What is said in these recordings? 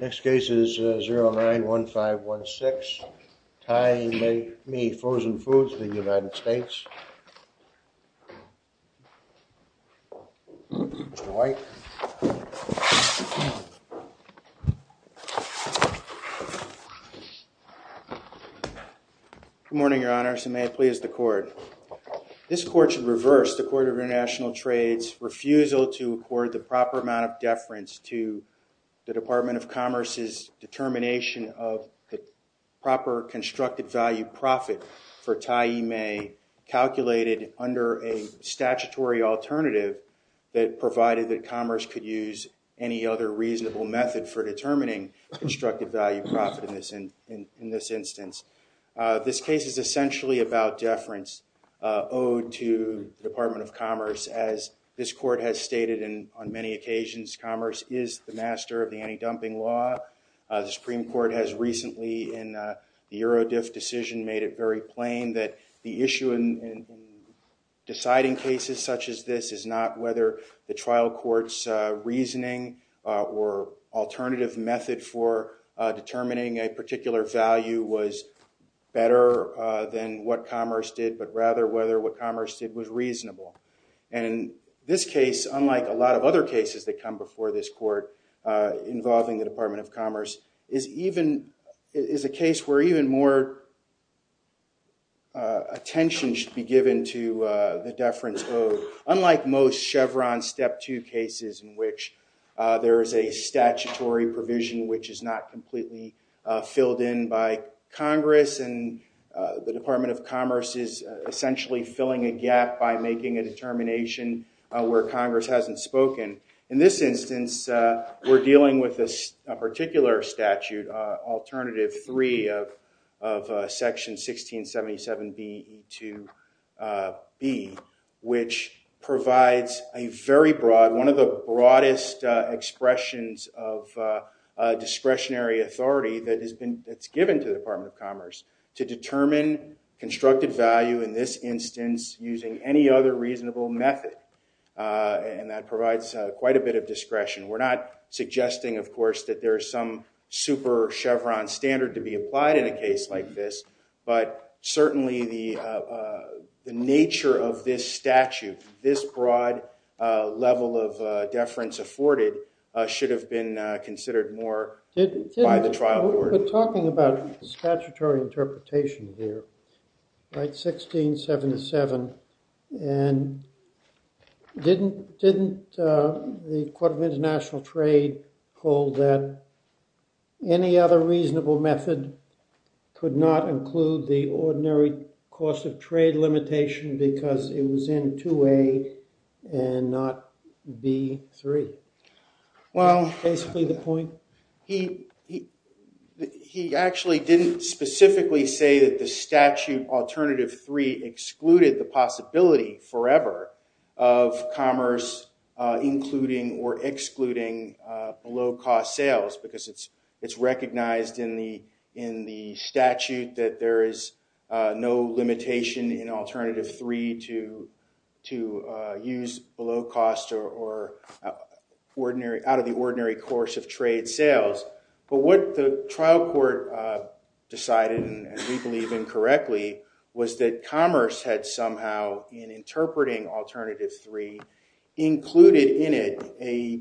Next case is 091516 I-mei Frozen Foods v. United States Good morning, Your Honor, so may it please the court. This court should reverse the Court of International Trade's refusal to accord the proper amount of deference to the Department of Commerce's determination of the proper constructed value profit for I-mei calculated under a statutory alternative that provided that Commerce could use any other reasonable method for determining constructed value profit in this instance. This case is essentially about deference owed to the Department of Commerce as this court has stated in on many occasions Commerce is the master of the anti-dumping law. The Supreme Court's Eurodiff decision made it very plain that the issue in deciding cases such as this is not whether the trial court's reasoning or alternative method for determining a particular value was better than what Commerce did but rather whether what Commerce did was reasonable and this case unlike a lot of other cases that come before this court involving the Department of Commerce is even is a case where even more attention should be given to the deference owed unlike most Chevron step two cases in which there is a statutory provision which is not completely filled in by Congress and the Department of Commerce is essentially filling a gap by making a determination where Congress hasn't spoken. In this case of section 1677 B to B which provides a very broad one of the broadest expressions of discretionary authority that has been it's given to the Department of Commerce to determine constructed value in this instance using any other reasonable method and that provides quite a bit of discretion. We're not suggesting of course that there is some super Chevron standard to be applied in a case like this but certainly the nature of this statute this broad level of deference afforded should have been considered more by the trial court. We're talking about statutory interpretation here right 1677 and didn't didn't the Court of International Trade hold that any other reasonable method could not include the ordinary cost of trade limitation because it was in 2A and not B3. Well basically the point he he actually didn't specifically say that the statute alternative three excluded the possibility forever of commerce including or excluding below-cost sales because it's it's in the statute that there is no limitation in alternative three to to use below cost or ordinary out of the ordinary course of trade sales but what the trial court decided and we believe incorrectly was that commerce had somehow in interpreting alternative three included in it a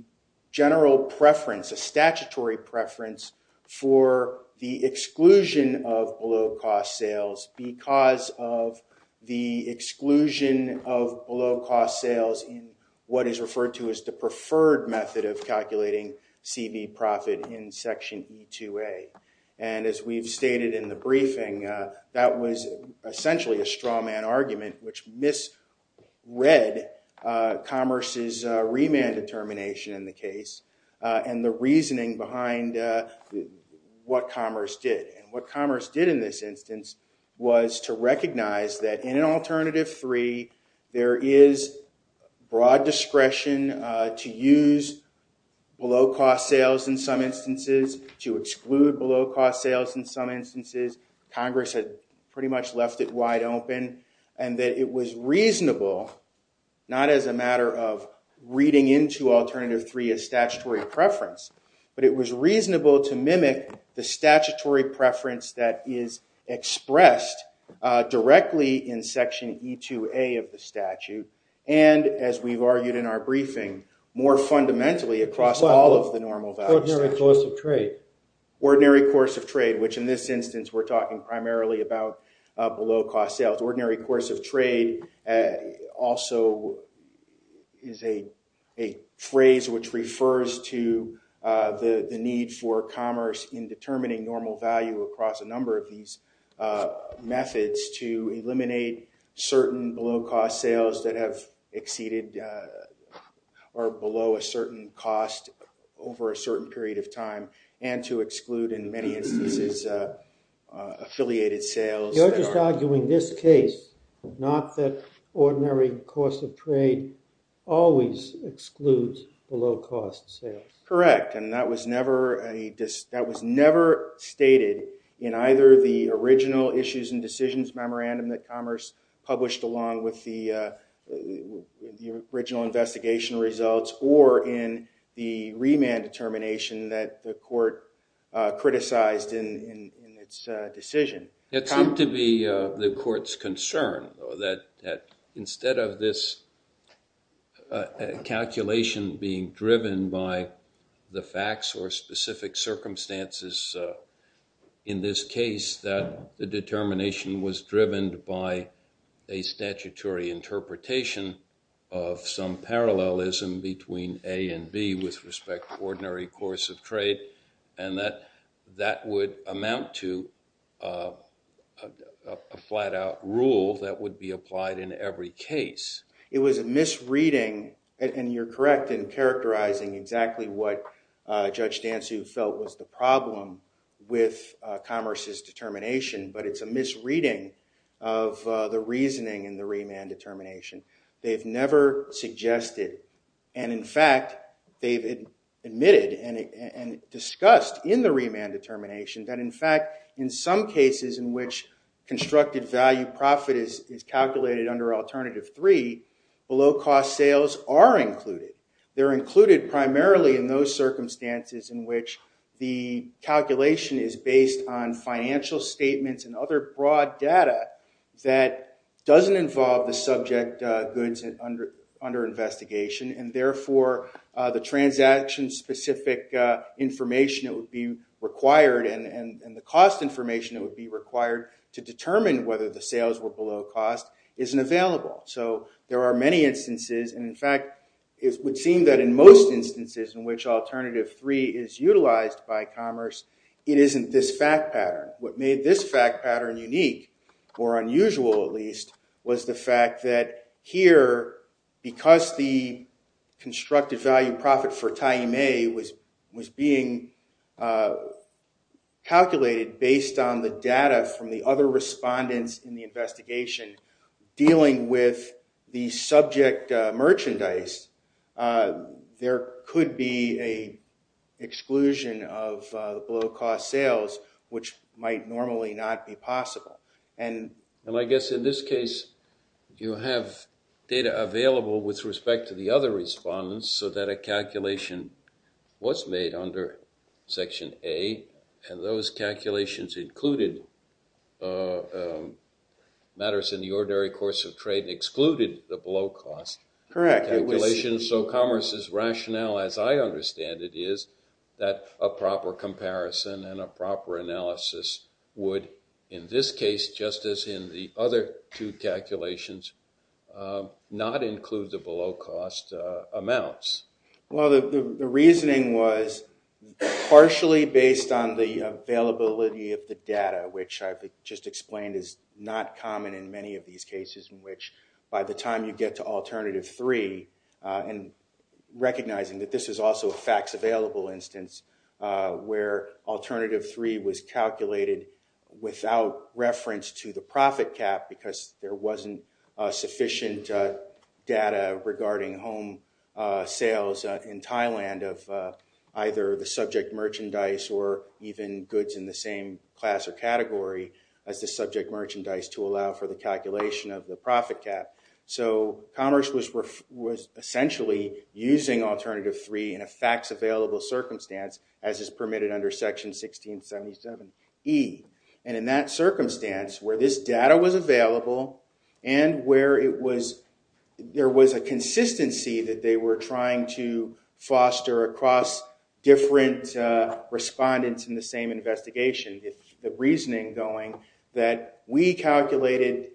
general preference a statutory preference for the exclusion of below-cost sales because of the exclusion of below-cost sales in what is referred to as the preferred method of calculating CV profit in section e2a and as we've stated in the briefing that was essentially a straw man argument which misread commerce's reasoning behind what commerce did and what commerce did in this instance was to recognize that in an alternative three there is broad discretion to use below-cost sales in some instances to exclude below-cost sales in some instances Congress had pretty much left it wide open and that it was reasonable not as a matter of reading into alternative three a statutory preference but it was reasonable to mimic the statutory preference that is expressed directly in section e2a of the statute and as we've argued in our briefing more fundamentally across all of the normal value ordinary course of trade which in this instance we're talking primarily about below-cost sales ordinary course of trade also is a phrase which refers to the need for commerce in determining normal value across a number of these methods to eliminate certain below-cost sales that have exceeded or below a certain cost over a certain period of time and to exclude in many instances affiliated sales. You're just arguing this case not that ordinary course of trade always excludes below-cost sales. Correct and that was never a that was never stated in either the original issues and decisions memorandum that commerce published along with the original investigation results or in the remand determination that the court criticized in its decision. It's not to be the court's concern that instead of this calculation being driven by the facts or specific circumstances in this case that the determination was driven by a statutory interpretation of some that would amount to a flat-out rule that would be applied in every case. It was a misreading and you're correct in characterizing exactly what judge Dantzu felt was the problem with commerce's determination but it's a misreading of the reasoning in the remand determination. They've never determination that in fact in some cases in which constructed value profit is calculated under alternative three below-cost sales are included. They're included primarily in those circumstances in which the calculation is based on financial statements and other broad data that doesn't involve the subject goods and under under investigation and therefore the transaction specific information that would be required and the cost information that would be required to determine whether the sales were below cost isn't available. So there are many instances and in fact it would seem that in most instances in which alternative three is utilized by commerce it isn't this fact pattern. What made this fact pattern unique or unusual at least was the fact that here because the constructive value profit for Taimé was was being calculated based on the data from the other respondents in the investigation dealing with the subject merchandise there could be a exclusion of below-cost sales which might normally not be possible. And I guess in this case you have data available with respect to the other respondents so that a calculation was made under section A and those calculations included matters in the ordinary course of trade excluded the below cost. Correct. So commerce's rationale as I understand it is that a proper comparison and a proper calculations not include the below-cost amounts. Well the reasoning was partially based on the availability of the data which I just explained is not common in many of these cases in which by the time you get to alternative three and recognizing that this is also a facts available instance where alternative three was calculated without reference to the profit cap because there wasn't sufficient data regarding home sales in Thailand of either the subject merchandise or even goods in the same class or category as the subject merchandise to allow for the calculation of the profit cap. So commerce was essentially using alternative three in a facts available circumstance as permitted under section 1677 E. And in that circumstance where this data was available and where it was there was a consistency that they were trying to foster across different respondents in the same investigation the reasoning going that we calculated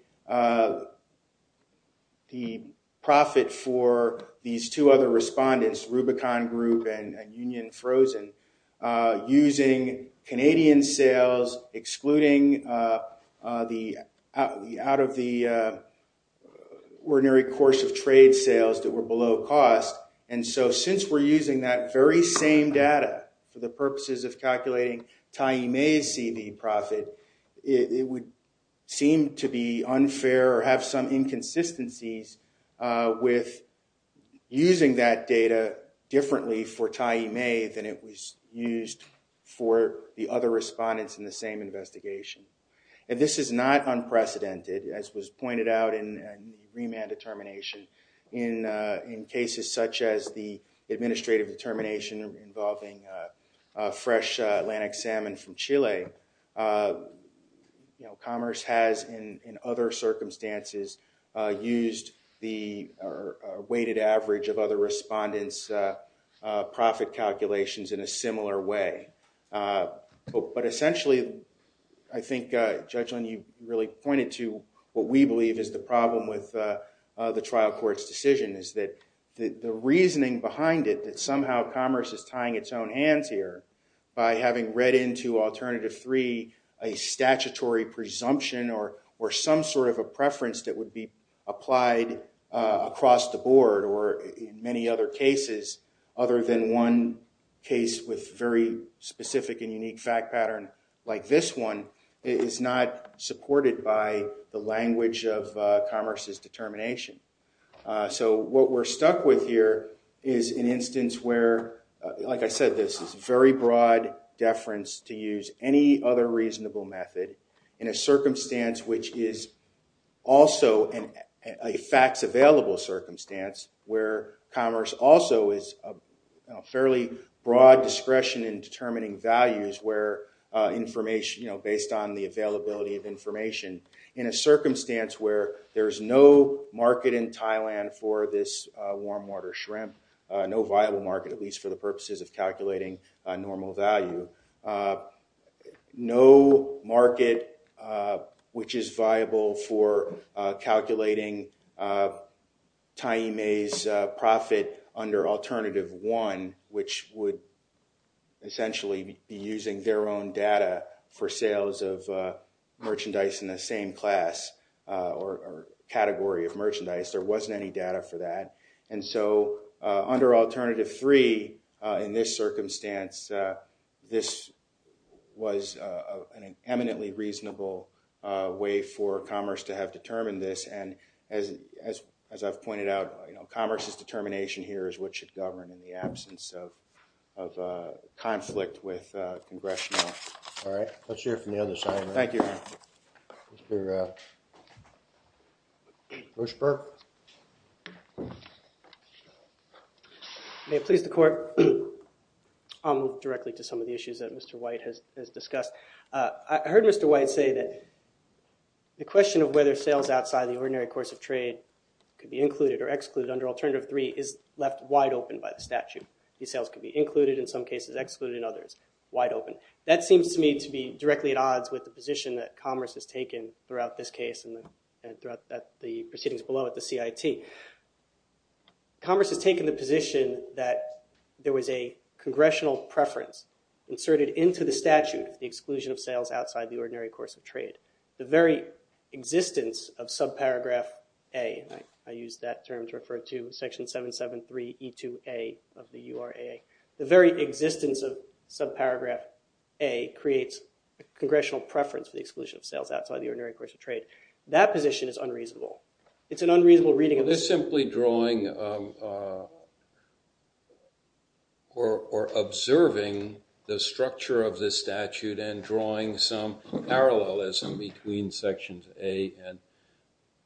the profit for these two other respondents Rubicon Group and Union Frozen using Canadian sales excluding the out of the ordinary course of trade sales that were below cost and so since we're using that very same data for the purposes of calculating Tai Mei's CV profit it would seem to be unfair or have some inconsistencies with using that data differently for Tai Mei than it was used for the other respondents in the same investigation. And this is not unprecedented as was pointed out in remand determination in in cases such as the administrative determination involving fresh Atlantic salmon from Chile you know commerce has in other circumstances used the weighted average of other respondents profit calculations in a similar way. But essentially I think Judge Lynn you really pointed to what we believe is the problem with the trial courts decision is that the reasoning behind it that somehow commerce is tying its own hands here by having read into alternative three a statutory presumption or or some sort of a preference that would be applied across the board or in many other cases other than one case with very specific and unique fact pattern like this one is not supported by the language of commerce's determination. So what we're stuck with here is an instance where like I said this is very broad deference to use any other reasonable method in a circumstance which is also in a facts available circumstance where commerce also is a fairly broad discretion in determining values where information you know based on the availability of information in a circumstance where there's no market in Thailand for this warm water shrimp no viable market at least for the purposes of calculating a normal value no market which is viable for calculating time a profit under alternative one which would essentially be using their own data for sales of merchandise in the same class or category of merchandise there wasn't any data for that and so under alternative three in this circumstance this was an eminently reasonable way for commerce to have determined this and as as as I've pointed out you know commerce's determination here is what should govern in the absence of conflict with congressional. All right let's hear May it please the court. I'll move directly to some of the issues that Mr. White has discussed. I heard Mr. White say that the question of whether sales outside the ordinary course of trade could be included or excluded under alternative three is left wide open by the statute. These sales could be included in some cases excluded in others wide open. That seems to me to be directly at odds with the position that commerce has taken throughout this case and throughout the CIT. Commerce has taken the position that there was a congressional preference inserted into the statute the exclusion of sales outside the ordinary course of trade. The very existence of subparagraph a I use that term to refer to section 773 e2a of the URA the very existence of subparagraph a creates a congressional preference for the exclusion of sales outside the ordinary course of trade. That position is unreasonable. It's an unreasonable reading of this simply drawing or observing the structure of this statute and drawing some parallelism between sections a and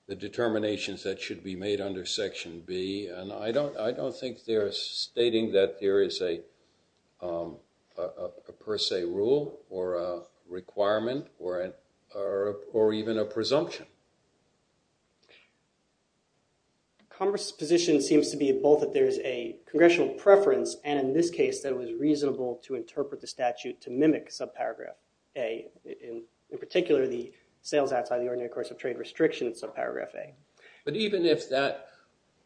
the determinations that should be made under section B and I don't I don't think they're stating that there is a per se rule or a requirement or an or even a presumption. Commerce's position seems to be both that there's a congressional preference and in this case that it was reasonable to interpret the statute to mimic subparagraph a in particular the sales outside the ordinary course of trade restrictions subparagraph a. But even if that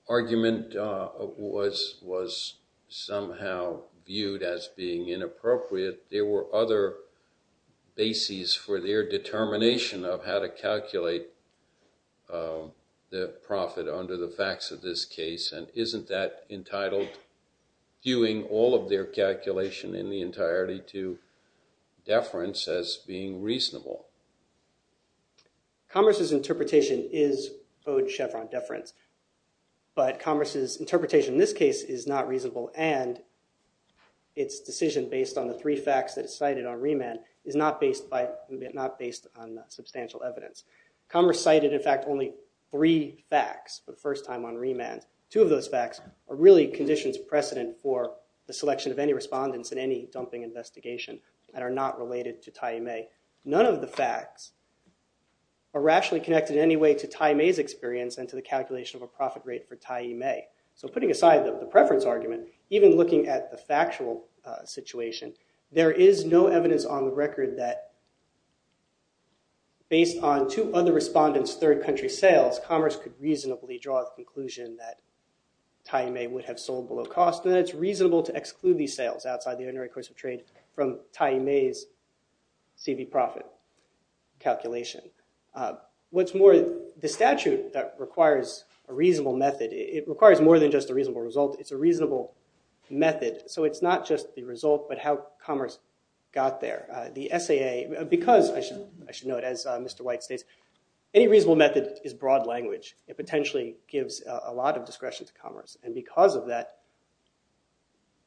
argument was somehow viewed as being in appropriate there were other bases for their determination of how to calculate the profit under the facts of this case and isn't that entitled viewing all of their calculation in the entirety to deference as being reasonable. Commerce's interpretation is owed Chevron deference but Commerce's interpretation in this case is not reasonable and its decision based on the three facts that is cited on remand is not based by not based on substantial evidence. Commerce cited in fact only three facts for the first time on remand. Two of those facts are really conditions precedent for the selection of any respondents in any dumping investigation that are not related to Tyee Mae. None of the facts are rationally connected in any way to Tyee Mae's experience and to the calculation of a preference argument even looking at the factual situation there is no evidence on the record that based on two other respondents third country sales Commerce could reasonably draw a conclusion that Tyee Mae would have sold below cost and it's reasonable to exclude these sales outside the ordinary course of trade from Tyee Mae's CV profit calculation. What's more the statute that requires a reasonable method it requires more than just a reasonable method so it's not just the result but how Commerce got there. The SAA because I should note as Mr. White states any reasonable method is broad language it potentially gives a lot of discretion to Commerce and because of that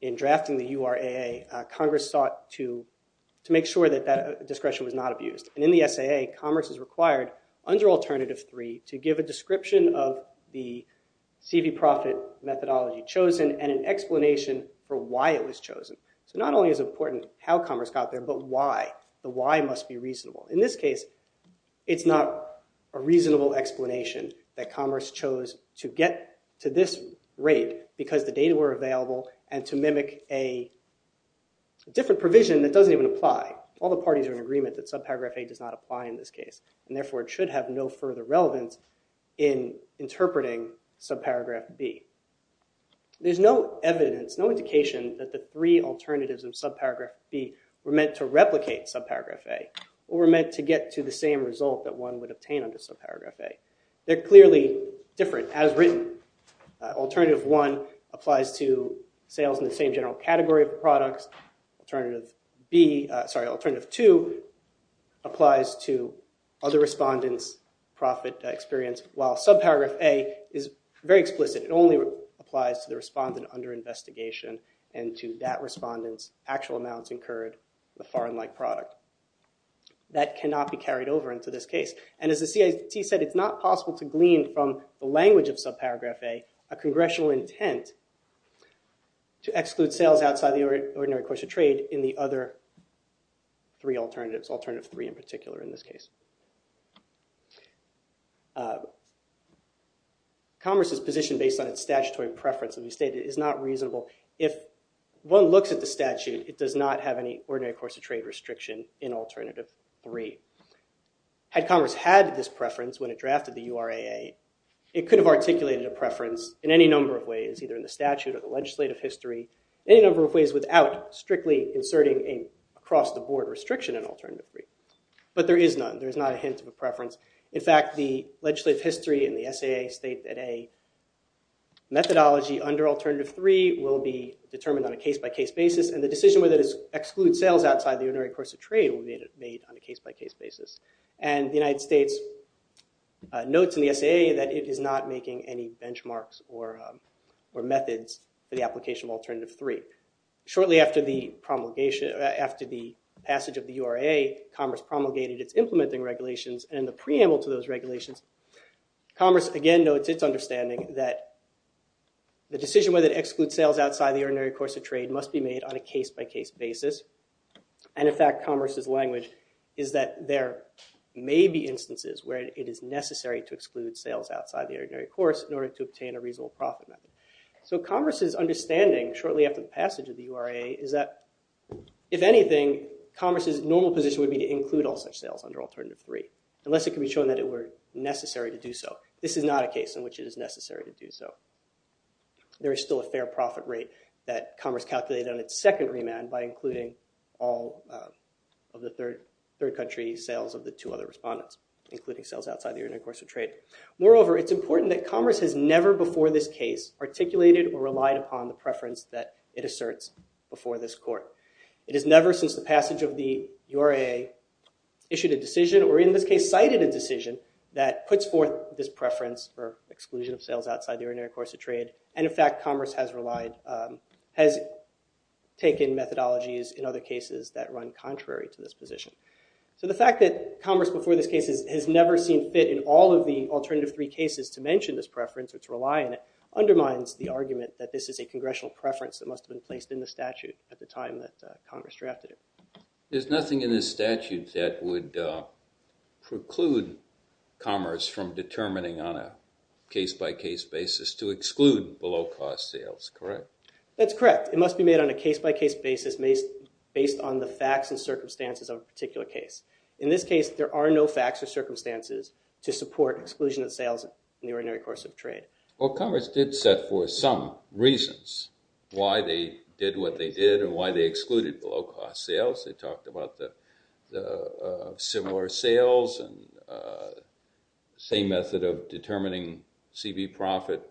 in drafting the URAA Congress sought to to make sure that that discretion was not abused and in the SAA Commerce is required under alternative three to give a description of the CV profit methodology chosen and an explanation for why it was chosen so not only is important how Commerce got there but why the why must be reasonable in this case it's not a reasonable explanation that Commerce chose to get to this rate because the data were available and to mimic a different provision that doesn't even apply all the parties are in agreement that subparagraph a does not apply in this case and therefore it should have no further relevance in interpreting subparagraph B. There's no evidence no indication that the three alternatives of subparagraph B were meant to replicate subparagraph A or were meant to get to the same result that one would obtain under subparagraph A. They're clearly different as written alternative one applies to sales in the same general category of products. Alternative B sorry alternative two applies to other respondents profit experience while subparagraph A is very explicit it only applies to the respondent under investigation and to that respondents actual amounts incurred the foreign like product. That cannot be carried over into this case and as the CIT said it's not possible to glean from the language of subparagraph A a congressional intent to exclude sales outside the ordinary course of trade in the other three alternatives alternative three in particular in this case. Commerce's position based on its statutory preference of the state is not reasonable if one looks at the statute it does not have any ordinary course of trade restriction in alternative three. Had Commerce had this preference when it preference in any number of ways either in the statute or the legislative history any number of ways without strictly inserting a cross the board restriction in alternative three but there is none there's not a hint of a preference in fact the legislative history and the SAA state that a methodology under alternative three will be determined on a case-by-case basis and the decision whether to exclude sales outside the ordinary course of trade will be made on a case-by-case basis and the United States notes in the SAA that it is not making any benchmarks or or methods for the application of alternative three. Shortly after the promulgation after the passage of the URA Commerce promulgated its implementing regulations and the preamble to those regulations Commerce again notes its understanding that the decision whether to exclude sales outside the ordinary course of trade must be made on a case-by-case basis and in fact Commerce's language is that there may be instances where it is necessary to exclude sales outside the ordinary course in order to obtain a reasonable profit method so Commerce's understanding shortly after the passage of the URA is that if anything Commerce's normal position would be to include all such sales under alternative three unless it can be shown that it were necessary to do so this is not a case in which it is necessary to do so there is still a fair profit rate that Commerce calculated on its second remand by including all of the third third country sales of the two other respondents including sales outside the ordinary course of trade moreover it's important that Commerce has never before this case articulated or relied upon the preference that it asserts before this court it is never since the passage of the URA issued a decision or in this case cited a decision that puts forth this preference or exclusion of sales outside the ordinary course of trade and in fact Commerce has relied has taken methodologies in other cases that run this case has never seen fit in all of the alternative three cases to mention this preference or to rely on it undermines the argument that this is a congressional preference that must have been placed in the statute at the time that Congress drafted it there's nothing in this statute that would preclude Commerce from determining on a case-by-case basis to exclude below cost sales correct that's correct it must be made on a case-by-case basis based based on the facts and circumstances of a particular case in this case there are no facts or circumstances to support exclusion of sales in the ordinary course of trade well Congress did set for some reasons why they did what they did and why they excluded below cost sales they talked about the similar sales and same method of determining CV profit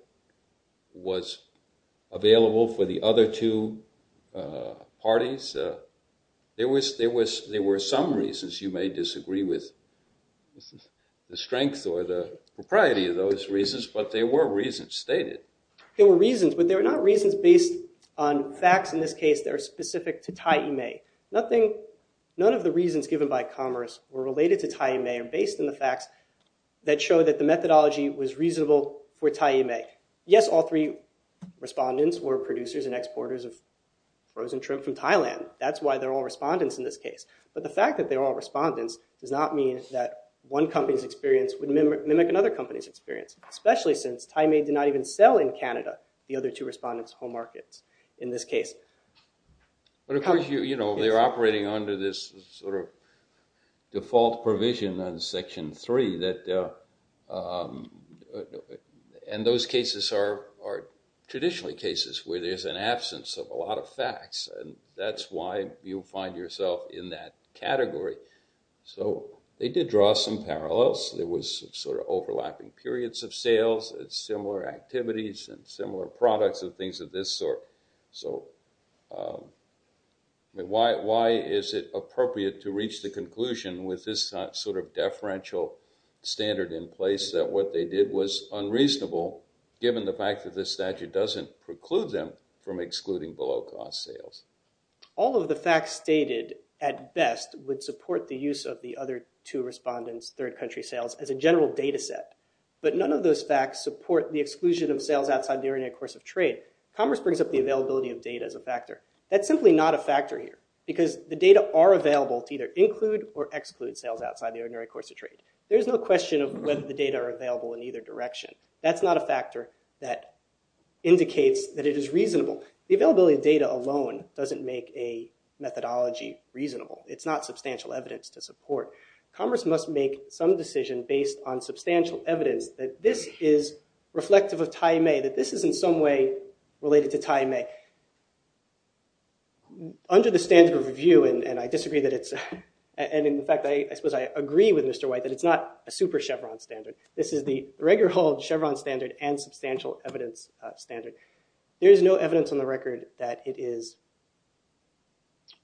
was available for the other two parties there was there was there were some reasons you may disagree with the strength or the propriety of those reasons but there were reasons stated there were reasons but there are not reasons based on facts in this case that are specific to tie you may nothing none of the reasons given by Commerce were related to tie you may are based on the facts that show that the methodology was reasonable for tie you may yes all three respondents were producers and exporters of frozen shrimp from Thailand that's why they're all respondents in this case but the fact that they're all respondents does not mean that one company's experience would mimic another company's experience especially since I may do not even sell in Canada the other two respondents home markets in this case but of course you you know they're operating under this sort of default provision on section three that and those cases are traditionally cases where there's an absence of a lot of facts and that's why you'll find yourself in that category so they did draw some parallels there was sort of overlapping periods of sales it's similar activities and similar products of things of this sort so why is it appropriate to reach the conclusion with this sort of deferential standard in place that what they did was unreasonable given the fact that this statute doesn't preclude them from the fact stated at best would support the use of the other two respondents third country sales as a general data set but none of those facts support the exclusion of sales outside the ordinary course of trade commerce brings up the availability of data as a factor that's simply not a factor here because the data are available to either include or exclude sales outside the ordinary course of trade there's no question of whether the data are available in either direction that's not a factor that indicates that it is reasonable the methodology reasonable it's not substantial evidence to support commerce must make some decision based on substantial evidence that this is reflective of time a that this is in some way related to time a under the standard of review and I disagree that it's and in fact I suppose I agree with mr. white that it's not a super Chevron standard this is the regular hold Chevron standard and substantial evidence standard there is no evidence on the record that it is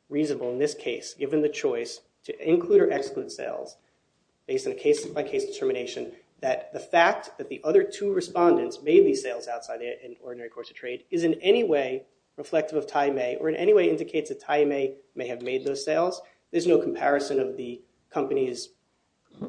reasonable in this case given the choice to include or exclude sales based on a case-by-case determination that the fact that the other two respondents may be sales outside in ordinary course of trade is in any way reflective of time a or in any way indicates that I may may have made those sales there's no comparison of the company's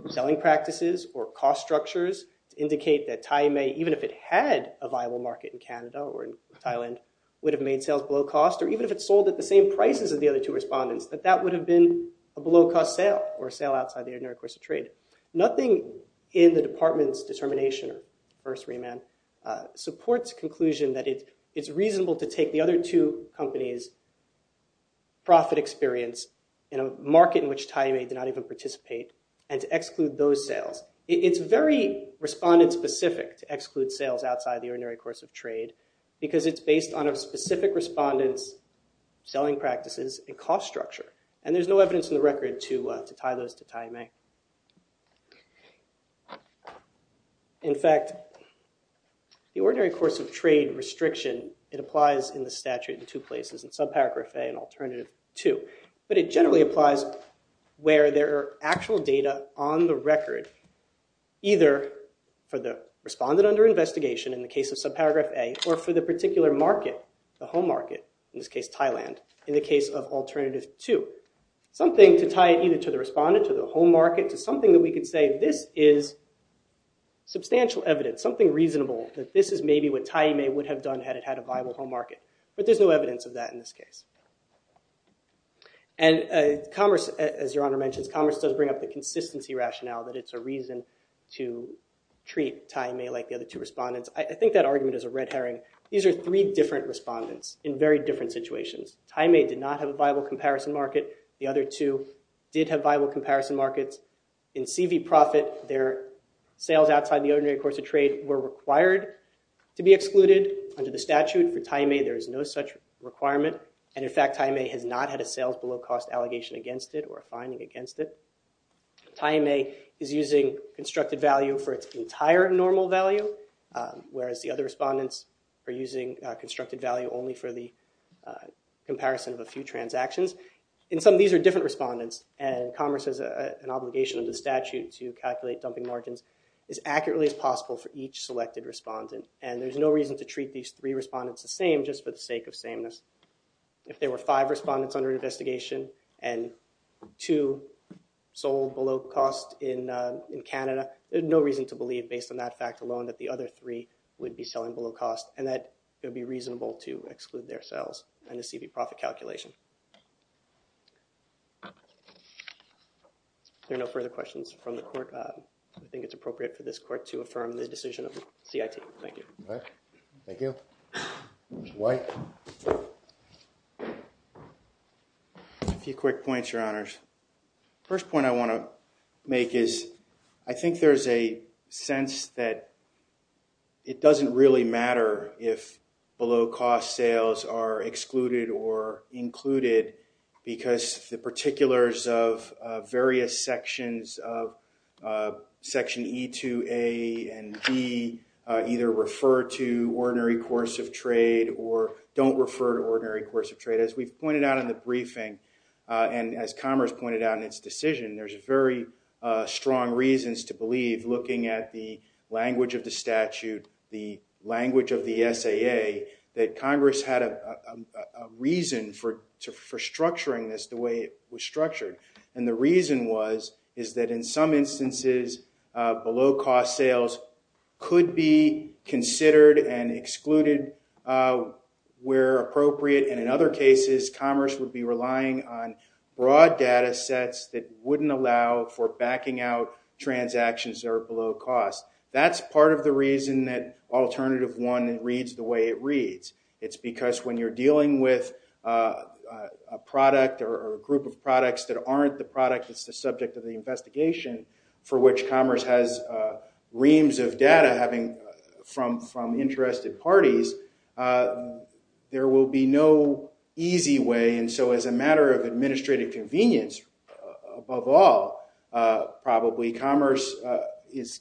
selling practices or cost structures indicate that time a even if it had a viable market in Canada or Thailand would have made sales below cost or even if it's sold at the same prices of the other two respondents that that would have been a below-cost sale or sale outside the ordinary course of trade nothing in the department's determination or first remand supports conclusion that it it's reasonable to take the other two companies profit experience in a market in which time a did not even participate and to exclude those sales it's very respondent specific to exclude sales outside the ordinary course of trade because it's based on a specific respondents selling practices a cost structure and there's no evidence in the record to to tie those to time a in fact the ordinary course of trade restriction it applies in the statute in two places and subparagraph a an alternative to but it generally applies where there are actual data on the record either for the respondent under investigation in the case of subparagraph a or for the particular market the home market in this case Thailand in the case of alternative to something to tie it either to the respondent to the home market to something that we could say this is substantial evidence something reasonable that this is maybe what time a would have done had it had a viable home market but there's no evidence of that in this case and commerce as your honor mentions commerce does bring up a consistency rationale that it's a reason to treat time a like the other two respondents I think that argument is a red herring these are three different respondents in very different situations time a did not have a viable comparison market the other two did have viable comparison markets in CV profit their sales outside the ordinary course of trade were required to be excluded under the statute for time a there is no such requirement and in fact I may has not had a sales below cost allegation against it or finding against it time a is using constructed value for its entire normal value whereas the other respondents are using constructed value only for the comparison of a few transactions in some of these are different respondents and commerce is an obligation of the statute to calculate dumping margins as accurately as possible for each selected respondent and there's no reason to treat these three respondents the same just for the sake of sameness if there were five respondents under investigation and two sold below cost in in Canada there's no reason to believe based on that fact alone that the other three would be selling below cost and that it would be reasonable to exclude their sales and the CV profit calculation there are no further questions from the court I think it's appropriate for this court to affirm the decision of CIT thank you thank you white a few quick points your honors first point I want to make is I think there's a sense that it doesn't really matter if below cost sales are excluded or included because the particulars of various sections of section II a and B either refer to ordinary course of trade or don't refer to ordinary course of trade as we've pointed out in the briefing and as commerce pointed out in its decision there's a very strong reasons to believe looking at the language of the statute the language of the SAA that Congress had a reason for for structuring this the way it was structured and the reason was is that in some instances below cost sales could be considered and excluded where appropriate and in other cases commerce would be relying on broad data sets that wouldn't allow for backing out transactions that are below cost that's part of the reason that alternative one that reads the way it reads it's because when you're dealing with a product or a group of products that aren't the product that's the subject of the investigation for which commerce has reams of data having from from interested parties there will be no easy way and so as a matter of administrative convenience above all probably commerce is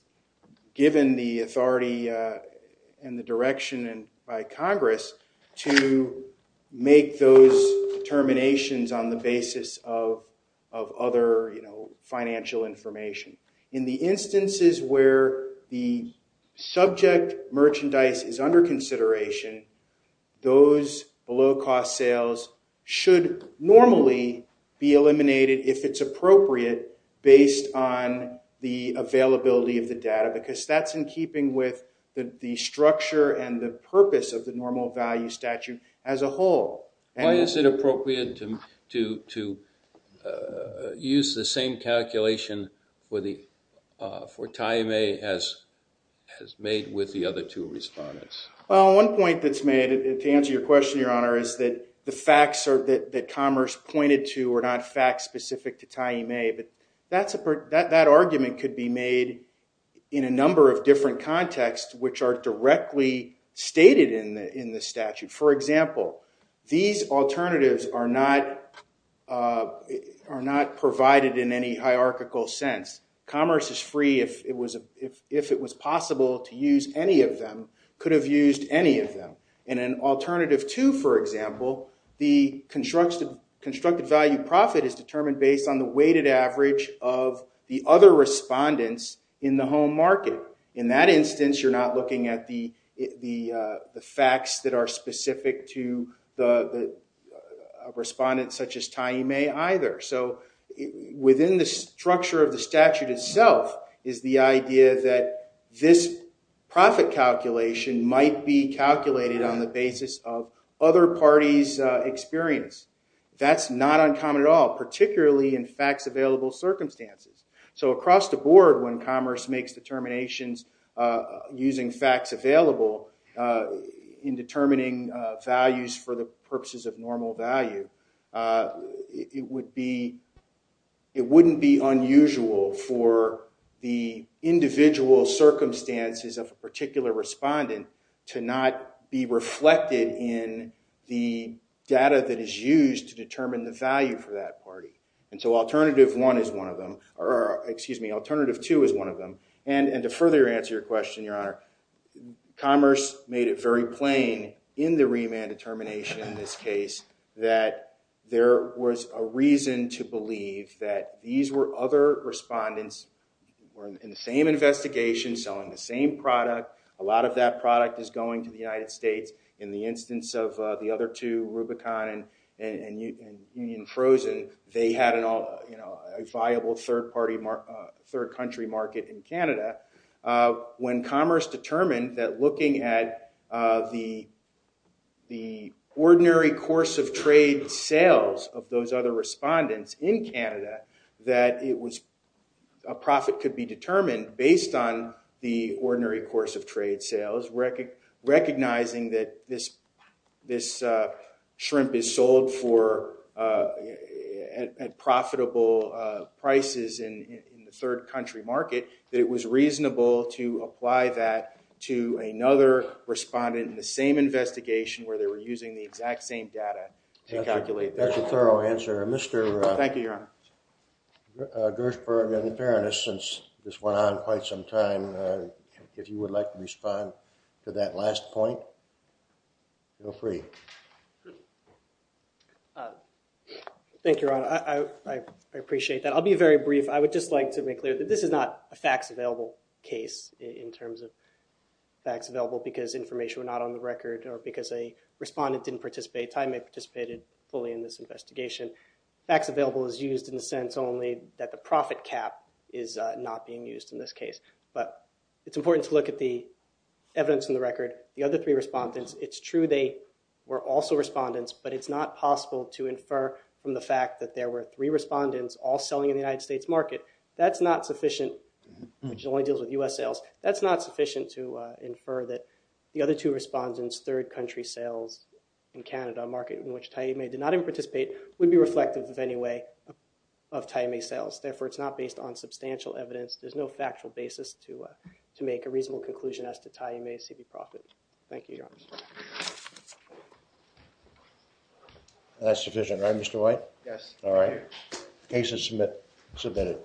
given the authority and the direction and by Congress to make those terminations on the basis of other you know financial information in the instances where the subject merchandise is under consideration those below cost sales should normally be eliminated if it's appropriate based on the availability of the data because that's in keeping with the structure and the purpose of the normal value statute as a whole and is it appropriate to use the same calculation for the for time a has has made with the other two respondents well one point that's made it to answer your question your honor is that the facts are that commerce pointed to or not facts specific to time a but that's a part that that argument could be made in a number of different contexts which are directly stated in the in the statute for example these alternatives are not are not provided in any hierarchical sense commerce is free if it was a if it was possible to use any of them could have used any of them in an alternative to for example the constructs the constructed value profit is determined based on the weighted average of the other respondents in the looking at the the facts that are specific to the respondents such as tiny may either so within the structure of the statute itself is the idea that this profit calculation might be calculated on the basis of other parties experience that's not uncommon at all particularly in facts available circumstances so across the board when commerce makes determinations using facts available in determining values for the purposes of normal value it would be it wouldn't be unusual for the individual circumstances of a particular respondent to not be reflected in the data that is used to determine the value for that party and so alternative one is one of them or excuse me alternative two is one of them and and to further answer your question your honor commerce made it very plain in the remand determination in this case that there was a reason to believe that these were other respondents in the same investigation selling the same product a lot of that product is going to the United States in the instance of the other two Rubicon and Union Frozen they had an all you know a viable third party market third country market in Canada when commerce determined that looking at the the ordinary course of trade sales of those other respondents in Canada that it was a profit could be determined based on the ordinary course of trade sales record recognizing that this this shrimp is sold for profitable prices in the third country market that it was reasonable to apply that to another respondent in the same investigation where they were using the exact same data to calculate that's a thorough answer mr. thank you your honor Gershberg and the fairness since this went on quite some time if you would like to respond to that last point go free thank you I appreciate that I'll be very brief I would just like to make clear that this is not a facts available case in terms of facts available because information were not on the record or because a respondent didn't participate I may participated fully in this investigation facts available is used in the sense only that the profit cap is not being used in this case but it's important to look at the evidence in the record the other three respondents it's true they were also respondents but it's not possible to infer from the fact that there were three respondents all selling in the United States market that's not sufficient which only deals with u.s. sales that's not sufficient to infer that the other two respondents third country sales in Canada market in which time a did not even participate would be reflective of any way of timing sales therefore it's not based on substantial evidence there's no factual basis to to make a reasonable conclusion as to tie you may see the profit thank you that's sufficient right mr. white yes all right cases submit submitted